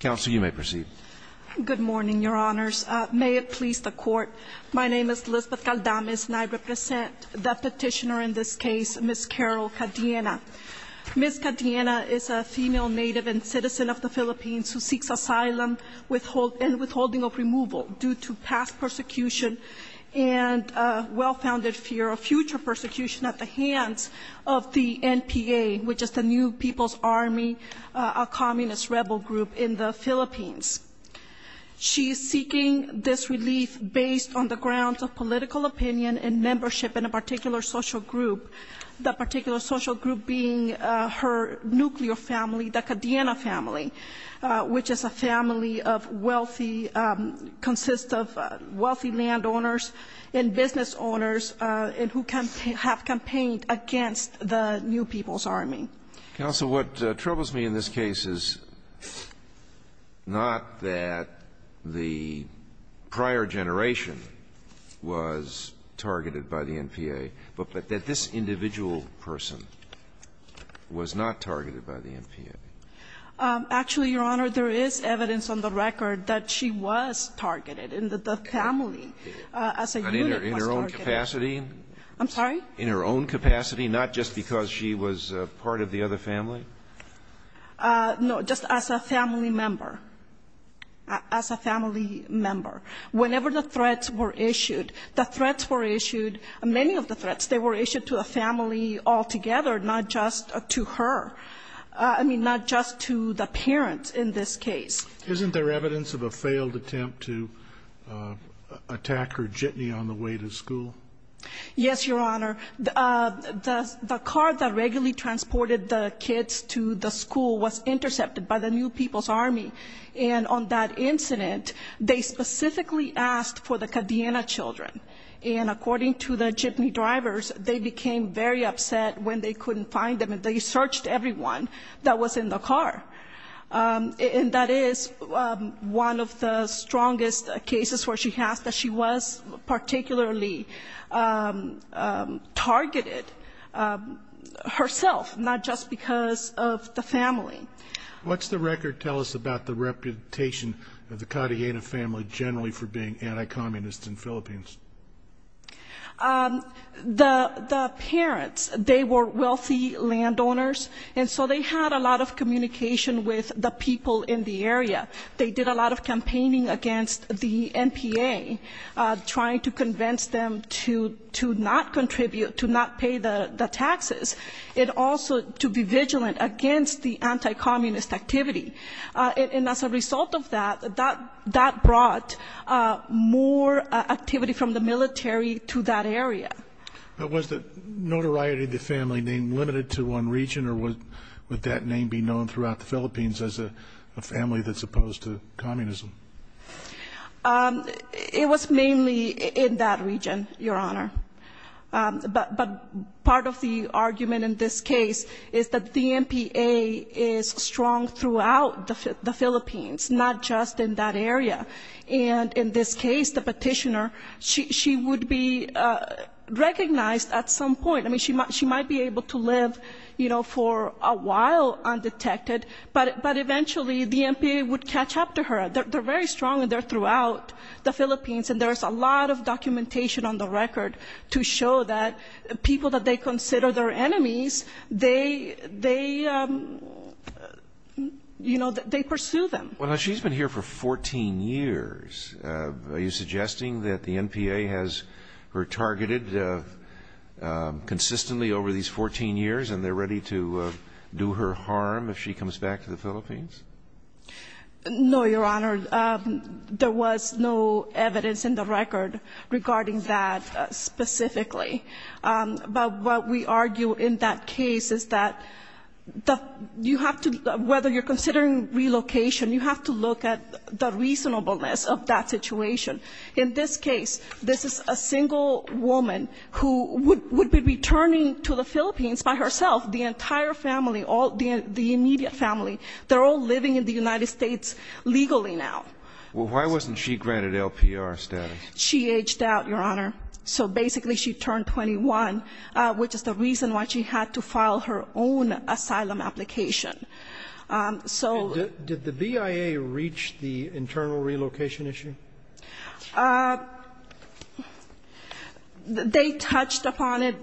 Counsel, you may proceed. Good morning, Your Honors. May it please the Court. My name is Lisbeth Caldames and I represent the petitioner in this case, Ms. Carol Cadiena. Ms. Cadiena is a female native and citizen of the Philippines who seeks asylum and withholding of removal due to past persecution and well-founded fear of future persecution at the hands of the NPA, which is the New People's Army, a communist rebel group in the Philippines. She is seeking this relief based on the grounds of political opinion and membership in a particular social group, that particular social group being her nuclear family, the Cadiena family, which is a family of wealthy, consists of wealthy landowners and business owners and who have campaigned against the New People's Army. Counsel, what troubles me in this case is not that the prior generation was targeted by the NPA, but that this individual person was not targeted by the NPA. Actually, Your Honor, there is evidence on the record that she was targeted and that the family as a unit was targeted. In her own capacity? I'm sorry? In her own capacity, not just because she was part of the other family? No, just as a family member, as a family member. Whenever the threats were issued, the threats were issued, many of the threats, they were issued to a family altogether, not just to her, I mean, not just to the parents in this case. Isn't there evidence of a failed attempt to attack her jitney on the way to school? Yes, Your Honor. The car that regularly transported the kids to the school was intercepted by the New People's Army, and on that incident, they specifically asked for the Cadiena children, and according to the jitney drivers, they became very upset when they couldn't find them, and they searched everyone that was in the car. And that is one of the strongest cases where she has that she was particularly targeted herself, not just because of the family. What's the record tell us about the reputation of the Cadiena family generally for being anti-communist in the Philippines? The parents, they were wealthy landowners, and so they had a lot of communication with the people in the area. They did a lot of campaigning against the NPA, trying to convince them to not contribute, to not pay the taxes, and also to be vigilant against the anti-communist activity. And as a result of that, that brought more activity from the military to that area. But was the notoriety of the family name limited to one region, or would that name be known throughout the Philippines as a family that's opposed to communism? It was mainly in that region, Your Honor. But part of the argument in this case is that the NPA is strong throughout the Philippines, not just in that area. And in this case, the petitioner, she would be recognized at some point. I mean, she might be able to live, you know, for a while undetected, but eventually the NPA would catch up to her. And there's a lot of documentation on the record to show that people that they consider their enemies, they, you know, they pursue them. Well, now, she's been here for 14 years. Are you suggesting that the NPA has her targeted consistently over these 14 years and they're ready to do her harm if she comes back to the Philippines? No, Your Honor. There was no evidence in the record regarding that specifically. But what we argue in that case is that you have to, whether you're considering relocation, you have to look at the reasonableness of that situation. In this case, this is a single woman who would be returning to the Philippines by herself, the entire family, the immediate family, they're all living in the United States legally now. Well, why wasn't she granted LPR status? She aged out, Your Honor. So basically she turned 21, which is the reason why she had to file her own asylum application. Did the BIA reach the internal relocation issue? They touched upon it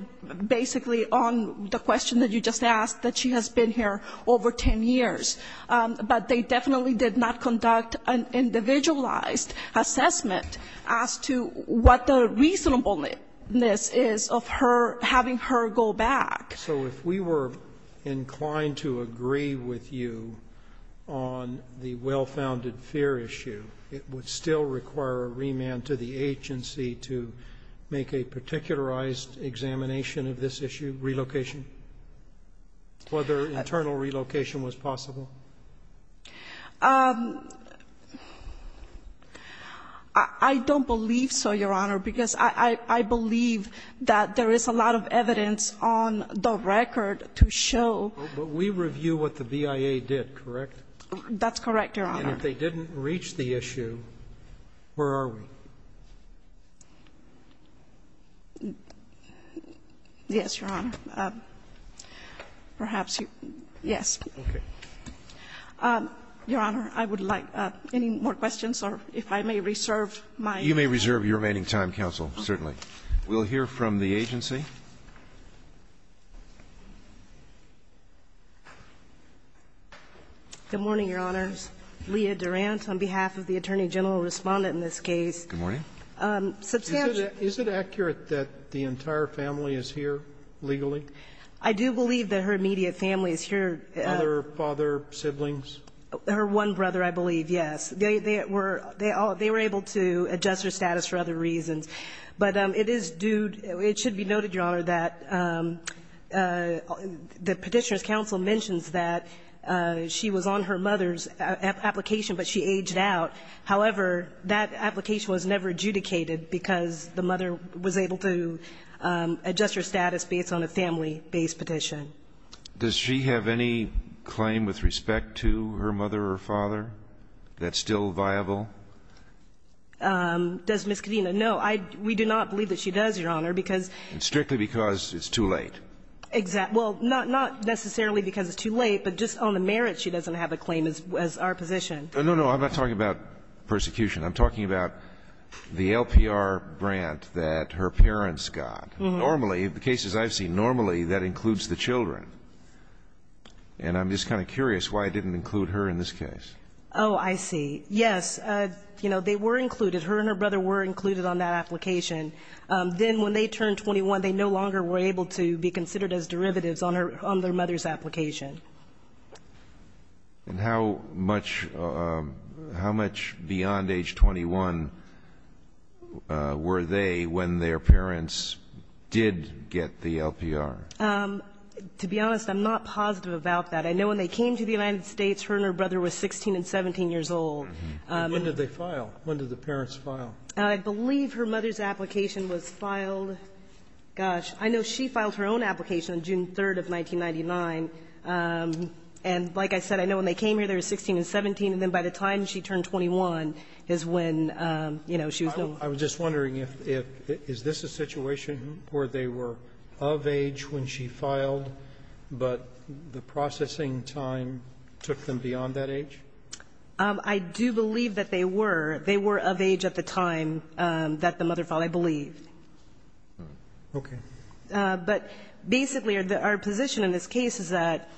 basically on the question that you just asked, that she has been here over 10 years, but they definitely did not conduct an individualized assessment as to what the reasonableness is of her having her go back. So if we were inclined to agree with you on the well-founded fear issue, it would still require a remand to the agency to make a particularized examination of this issue, relocation, whether internal relocation was possible? I don't believe so, Your Honor, because I believe that there is a lot of evidence on the record to show. But we review what the BIA did, correct? That's correct, Your Honor. And if they didn't reach the issue, where are we? Yes, Your Honor. Perhaps, yes. Okay. Your Honor, I would like any more questions, or if I may reserve my time. You may reserve your remaining time, counsel, certainly. We'll hear from the agency. Good morning, Your Honors. Leah Durant on behalf of the Attorney General and Respondent in this case. Good morning. Is it accurate that the entire family is here legally? I do believe that her immediate family is here. Other father, siblings? Her one brother, I believe, yes. They were able to adjust her status for other reasons. But it is due to, it should be noted, Your Honor, that the Petitioner's Counsel mentions that she was on her mother's application, but she aged out. However, that application was never adjudicated because the mother was able to adjust her status based on a family-based petition. Does she have any claim with respect to her mother or father that's still viable? Does Ms. Kadena? No. We do not believe that she does, Your Honor, because ---- And strictly because it's too late. Exactly. Well, not necessarily because it's too late, but just on the merits, she doesn't have a claim as our position. No, no. I'm not talking about persecution. I'm talking about the LPR grant that her parents got. Normally, the cases I've seen, normally that includes the children. And I'm just kind of curious why it didn't include her in this case. Oh, I see. Yes. You know, they were included. Her and her brother were included on that application. Then when they turned 21, they no longer were able to be considered as derivatives on her ---- on their mother's application. And how much ---- how much beyond age 21 were they when their parents did get the LPR? To be honest, I'm not positive about that. I know when they came to the United States, her and her brother were 16 and 17 years old. And when did they file? When did the parents file? I believe her mother's application was filed ---- gosh, I know she filed her own application on June 3rd of 1999. And like I said, I know when they came here, they were 16 and 17, and then by the time she turned 21 is when, you know, she was no longer ---- I was just wondering if ---- is this a situation where they were of age when she filed, but the processing time took them beyond that age? I do believe that they were. They were of age at the time that the mother filed, I believe. Okay. But basically, our position in this case is that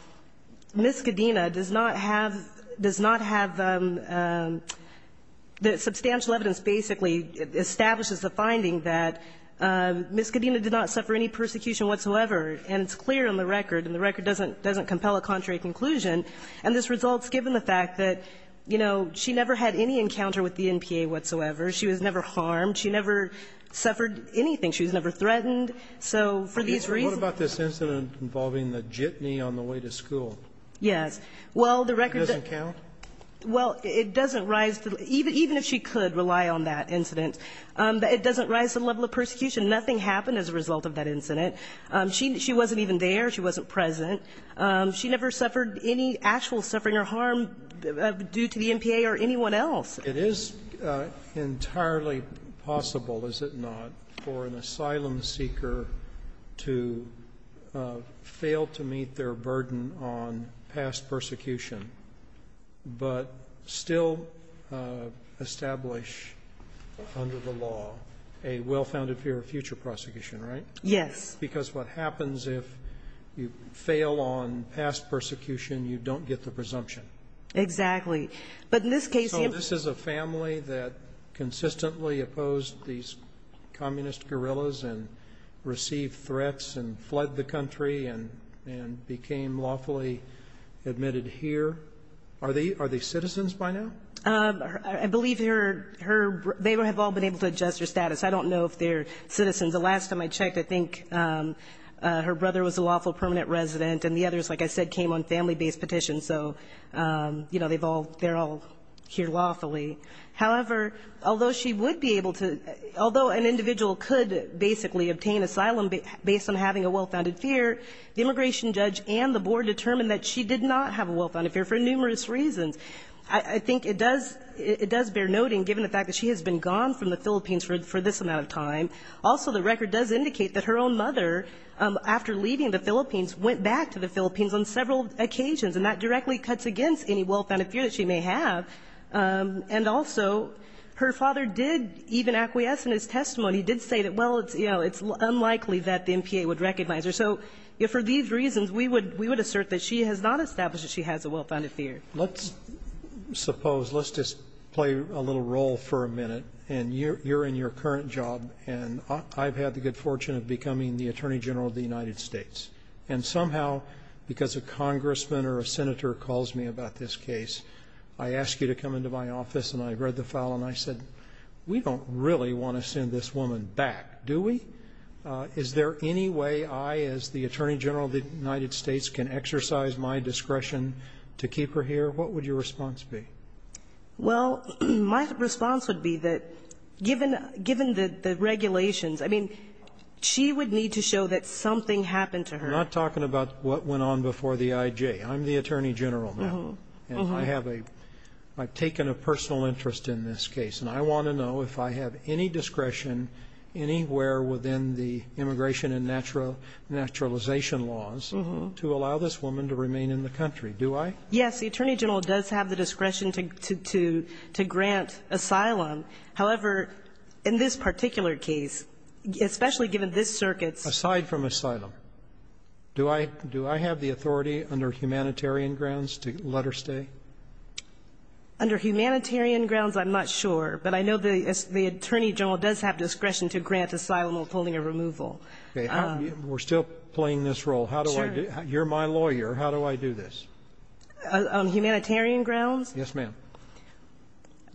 Ms. Cadena does not have ---- does not have the substantial evidence basically establishes the finding that Ms. Cadena did not suffer any persecution whatsoever. And it's clear on the record, and the record doesn't compel a contrary conclusion, and this results given the fact that, you know, she never had any encounter with the NPA whatsoever. She was never harmed. She never suffered anything. She was never threatened. So for these reasons ---- What about this incident involving the jitney on the way to school? Yes. Well, the record ---- It doesn't count? Well, it doesn't rise to the ---- even if she could rely on that incident, it doesn't rise to the level of persecution. Nothing happened as a result of that incident. She wasn't even there. She wasn't present. She never suffered any actual suffering or harm due to the NPA or anyone else. It is entirely possible, is it not, for an asylum seeker to fail to meet their burden on past persecution, but still establish under the law a well-founded fear of future prosecution, right? Yes. Because what happens if you fail on past persecution, you don't get the presumption. Exactly. But in this case ---- So this is a family that consistently opposed these communist guerrillas and received threats and fled the country and became lawfully admitted here. Are they citizens by now? I believe they have all been able to adjust their status. I don't know if they're citizens. The last time I checked, I think her brother was a lawful permanent resident and the others, like I said, came on family-based petitions. So, you know, they're all here lawfully. However, although she would be able to ---- Although an individual could basically obtain asylum based on having a well-founded fear, the immigration judge and the board determined that she did not have a well-founded fear for numerous reasons. I think it does bear noting, given the fact that she has been gone from the Philippines for this amount of time. Also, the record does indicate that her own mother, after leaving the Philippines, went back to the Philippines on several occasions, and that directly cuts against any well-founded fear that she may have. And also, her father did even acquiesce in his testimony, did say that, well, you know, it's unlikely that the MPA would recognize her. So for these reasons, we would assert that she has not established that she has a well-founded fear. Let's suppose, let's just play a little role for a minute. And you're in your current job, and I've had the good fortune of becoming the Attorney General of the United States. And somehow, because a congressman or a senator calls me about this case, I ask you to come into my office. And I read the file, and I said, we don't really want to send this woman back, do we? Is there any way I, as the Attorney General of the United States, can exercise my discretion to keep her here? What would your response be? Well, my response would be that, given the regulations, I mean, she would need to show that something happened to her. I'm not talking about what went on before the IG. I'm the Attorney General now. And I have a – I've taken a personal interest in this case. And I want to know if I have any discretion anywhere within the immigration and naturalization laws to allow this woman to remain in the country. Do I? Yes. The Attorney General does have the discretion to grant asylum. However, in this particular case, especially given this circuit's – Under humanitarian grounds, I'm not sure. But I know the Attorney General does have discretion to grant asylum while pulling a removal. We're still playing this role. Sure. You're my lawyer. How do I do this? On humanitarian grounds? Yes, ma'am.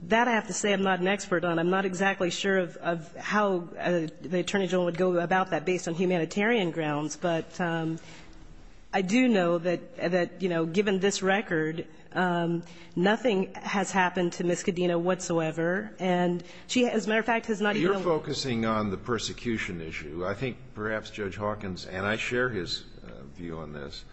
That, I have to say, I'm not an expert on. I'm not exactly sure of how the Attorney General would go about that based on humanitarian grounds. But I do know that, you know, given this record, nothing has happened to Ms. Cadena whatsoever. And she, as a matter of fact, has not even – You're focusing on the persecution issue. I think perhaps Judge Hawkins, and I share his view on this,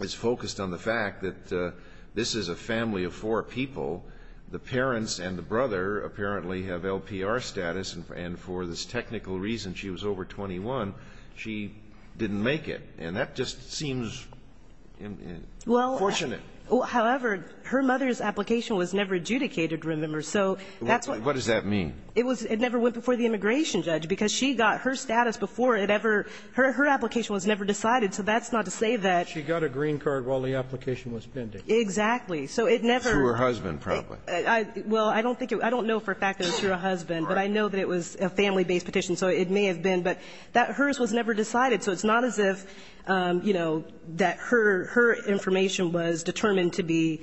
is focused on the fact that this is a family of four people. The parents and the brother apparently have LPR status. And for this technical reason, she was over 21. She didn't make it. And that just seems unfortunate. Well, however, her mother's application was never adjudicated, remember. So that's what – What does that mean? It was – it never went before the immigration judge because she got her status before it ever – her application was never decided. So that's not to say that – She got a green card while the application was pending. Exactly. So it never – Through her husband, probably. Well, I don't think – I don't know for a fact that it was through her husband. Right. But I know that it was a family-based petition, so it may have been. But hers was never decided, so it's not as if, you know, that her information was determined to be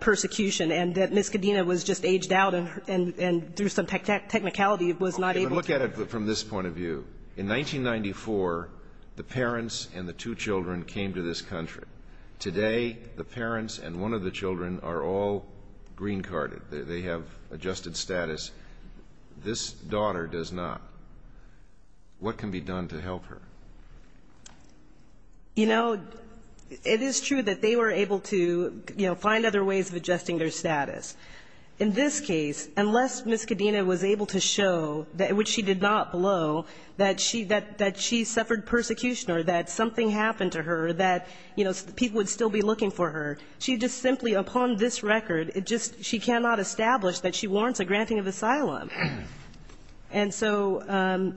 persecution and that Ms. Cadena was just aged out and through some technicality was not able to – Look at it from this point of view. In 1994, the parents and the two children came to this country. Today, the parents and one of the children are all green-carded. They have adjusted status. This daughter does not. What can be done to help her? You know, it is true that they were able to, you know, find other ways of adjusting their status. In this case, unless Ms. Cadena was able to show, which she did not below, that she suffered persecution or that something happened to her, that, you know, people would still be looking for her. She just simply, upon this record, it just – she cannot establish that she warrants a granting of asylum. And so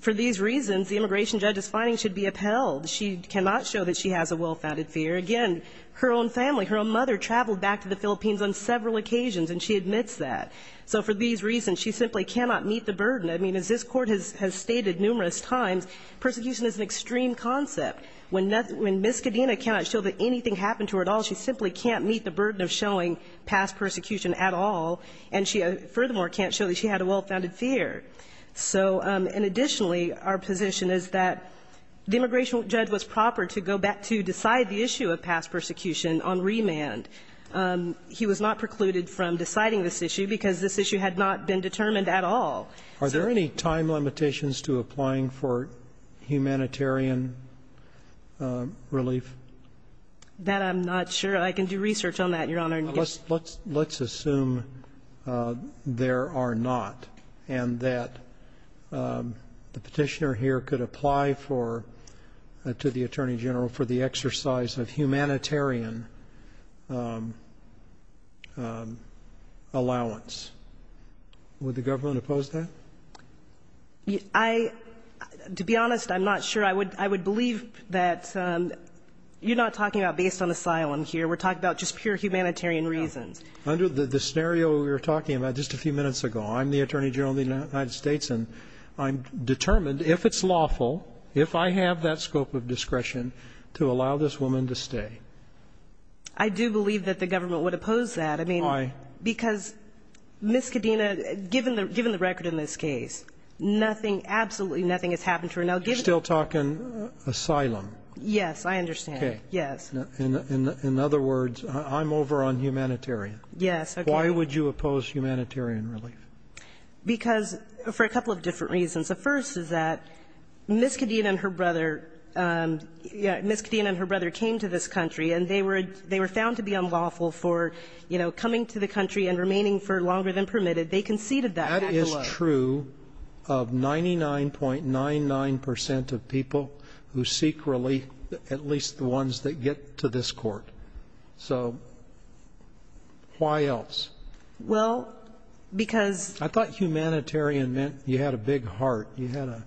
for these reasons, the immigration judge's findings should be upheld. She cannot show that she has a well-founded fear. Again, her own family, her own mother, traveled back to the Philippines on several occasions, and she admits that. So for these reasons, she simply cannot meet the burden. I mean, as this Court has stated numerous times, persecution is an extreme concept. When Ms. Cadena cannot show that anything happened to her at all, she simply can't meet the burden of showing past persecution at all, and she furthermore can't show that she had a well-founded fear. So, and additionally, our position is that the immigration judge was proper to go back to decide the issue of past persecution on remand. He was not precluded from deciding this issue because this issue had not been determined at all. Are there any time limitations to applying for humanitarian relief? That I'm not sure. I can do research on that, Your Honor. Let's assume there are not and that the Petitioner here could apply for, to the Attorney General, for the exercise of humanitarian allowance. Would the government oppose that? I, to be honest, I'm not sure. I would believe that you're not talking about based on asylum here. We're talking about just pure humanitarian reasons. No. Under the scenario we were talking about just a few minutes ago, I'm the Attorney General of the United States, and I'm determined, if it's lawful, if I have that scope of discretion, to allow this woman to stay. I do believe that the government would oppose that. Why? Because Ms. Kadena, given the record in this case, nothing, absolutely nothing has happened to her. You're still talking asylum? Yes, I understand. Okay. Yes. In other words, I'm over on humanitarian. Yes. Okay. Why would you oppose humanitarian relief? Because, for a couple of different reasons. The first is that Ms. Kadena and her brother, Ms. Kadena and her brother came to this country and remaining for longer than permitted, they conceded that. That is true of 99.99% of people who seek relief, at least the ones that get to this court. So, why else? Well, because. I thought humanitarian meant you had a big heart. You had a,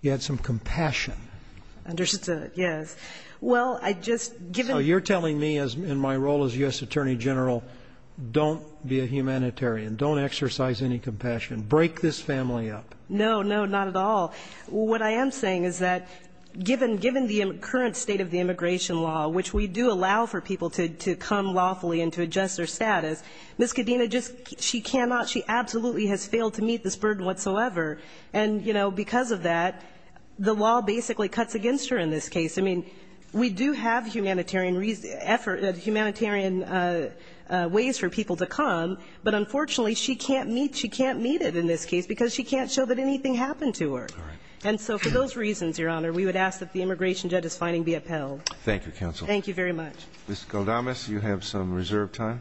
you had some compassion. Understood. Yes. Well, I just. So, you're telling me in my role as U.S. Attorney General, don't be a humanitarian. Don't exercise any compassion. Break this family up. No, no, not at all. What I am saying is that given the current state of the immigration law, which we do allow for people to come lawfully and to adjust their status, Ms. Kadena just, she cannot, she absolutely has failed to meet this burden whatsoever. And, you know, because of that, the law basically cuts against her in this case. I mean, we do have humanitarian effort, humanitarian ways for people to come. But, unfortunately, she can't meet, she can't meet it in this case because she can't show that anything happened to her. All right. And so, for those reasons, Your Honor, we would ask that the immigration judge's finding be upheld. Thank you, counsel. Thank you very much. Ms. Galdames, you have some reserved time.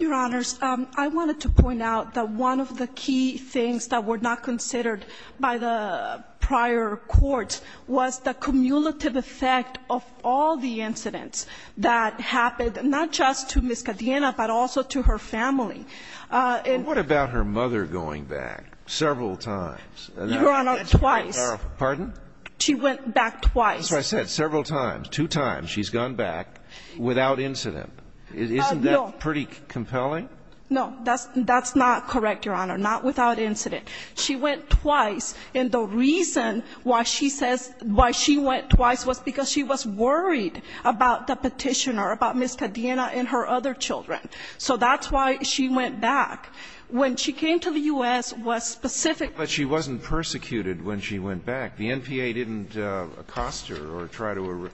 Your Honors, I wanted to point out that one of the key things that were not considered by the prior courts was the cumulative effect of all the incidents that happened not just to Ms. Kadena, but also to her family. What about her mother going back several times? Your Honor, twice. Pardon? She went back twice. That's what I said, several times. Two times she's gone back without incident. Isn't that pretty compelling? No. That's not correct, Your Honor. Not without incident. She went twice, and the reason why she says why she went twice was because she was concerned about Ms. Kadena and her other children. So that's why she went back. When she came to the U.S., was specific. But she wasn't persecuted when she went back. The NPA didn't accost her or try to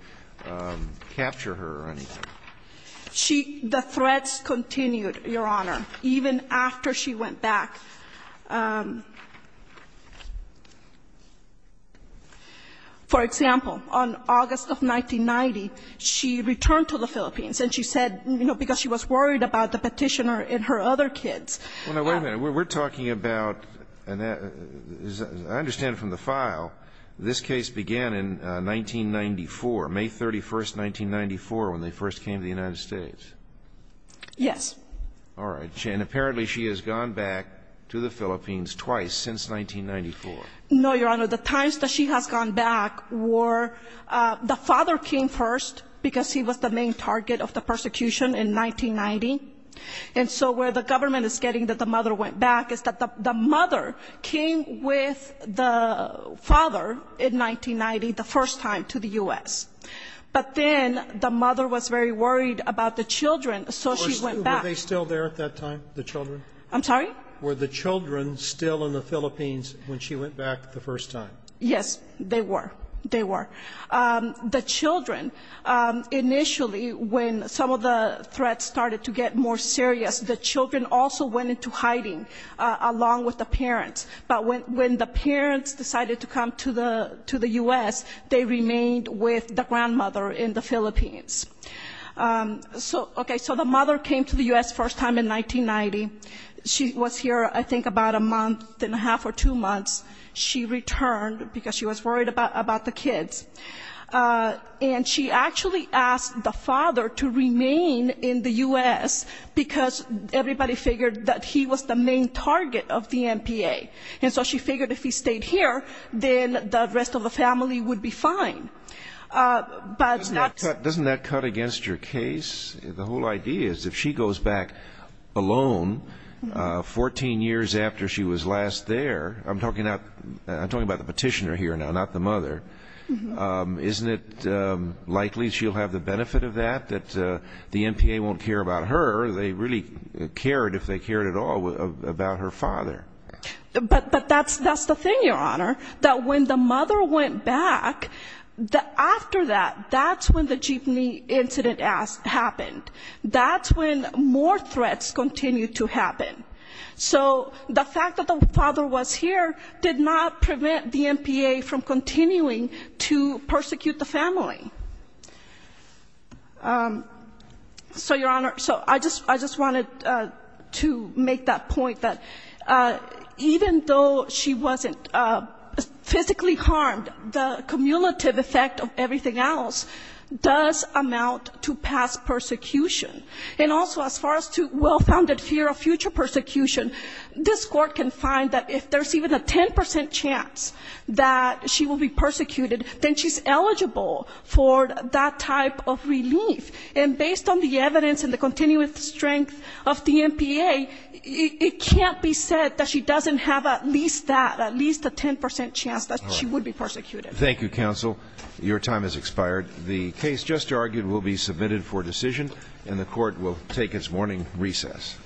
capture her or anything. She the threats continued, Your Honor, even after she went back. For example, on August of 1990, she returned to the Philippines, and she said, you know, because she was worried about the Petitioner and her other kids. Well, now, wait a minute. We're talking about, and I understand from the file, this case began in 1994, May 31, 1994, when they first came to the United States. Yes. All right. And apparently she has gone back to the Philippines twice since 1994. No, Your Honor. The times that she has gone back were the father came first because he was the main target of the persecution in 1990. And so where the government is getting that the mother went back is that the mother came with the father in 1990, the first time, to the U.S. But then the mother was very worried about the children, so she went back. Were they still there at that time, the children? I'm sorry? Were the children still in the Philippines when she went back the first time? Yes, they were. They were. The children, initially, when some of the threats started to get more serious, the children also went into hiding along with the parents. But when the parents decided to come to the U.S., they remained with the grandmother in the Philippines. So, okay, so the mother came to the U.S. first time in 1990. She was here, I think, about a month and a half or two months. She returned because she was worried about the kids. And she actually asked the father to remain in the U.S., because everybody figured that he was the main target of the NPA. And so she figured if he stayed here, then the rest of the family would be fine. Doesn't that cut against your case? The whole idea is if she goes back alone 14 years after she was last there, I'm talking about the petitioner here now, not the mother, isn't it likely she'll have the benefit of that, that the NPA won't care about her? They really cared, if they cared at all, about her father. But that's the thing, Your Honor, that when the mother went back, after that, that's when the Jeepney incident happened. That's when more threats continued to happen. So the fact that the father was here did not prevent the NPA from continuing to persecute the family. So, Your Honor, I just wanted to make that point that even though she wasn't physically harmed, the cumulative effect of everything else does amount to past persecution. And also, as far as to well-founded fear of future persecution, this Court can find that if there's even a 10 percent chance that she will be persecuted, then she's eligible for that type of relief. And based on the evidence and the continuous strength of the NPA, it can't be said that she doesn't have at least that, at least a 10 percent chance that she would be persecuted. Thank you, counsel. Your time has expired. The case just argued will be submitted for decision, and the Court will take its morning recess.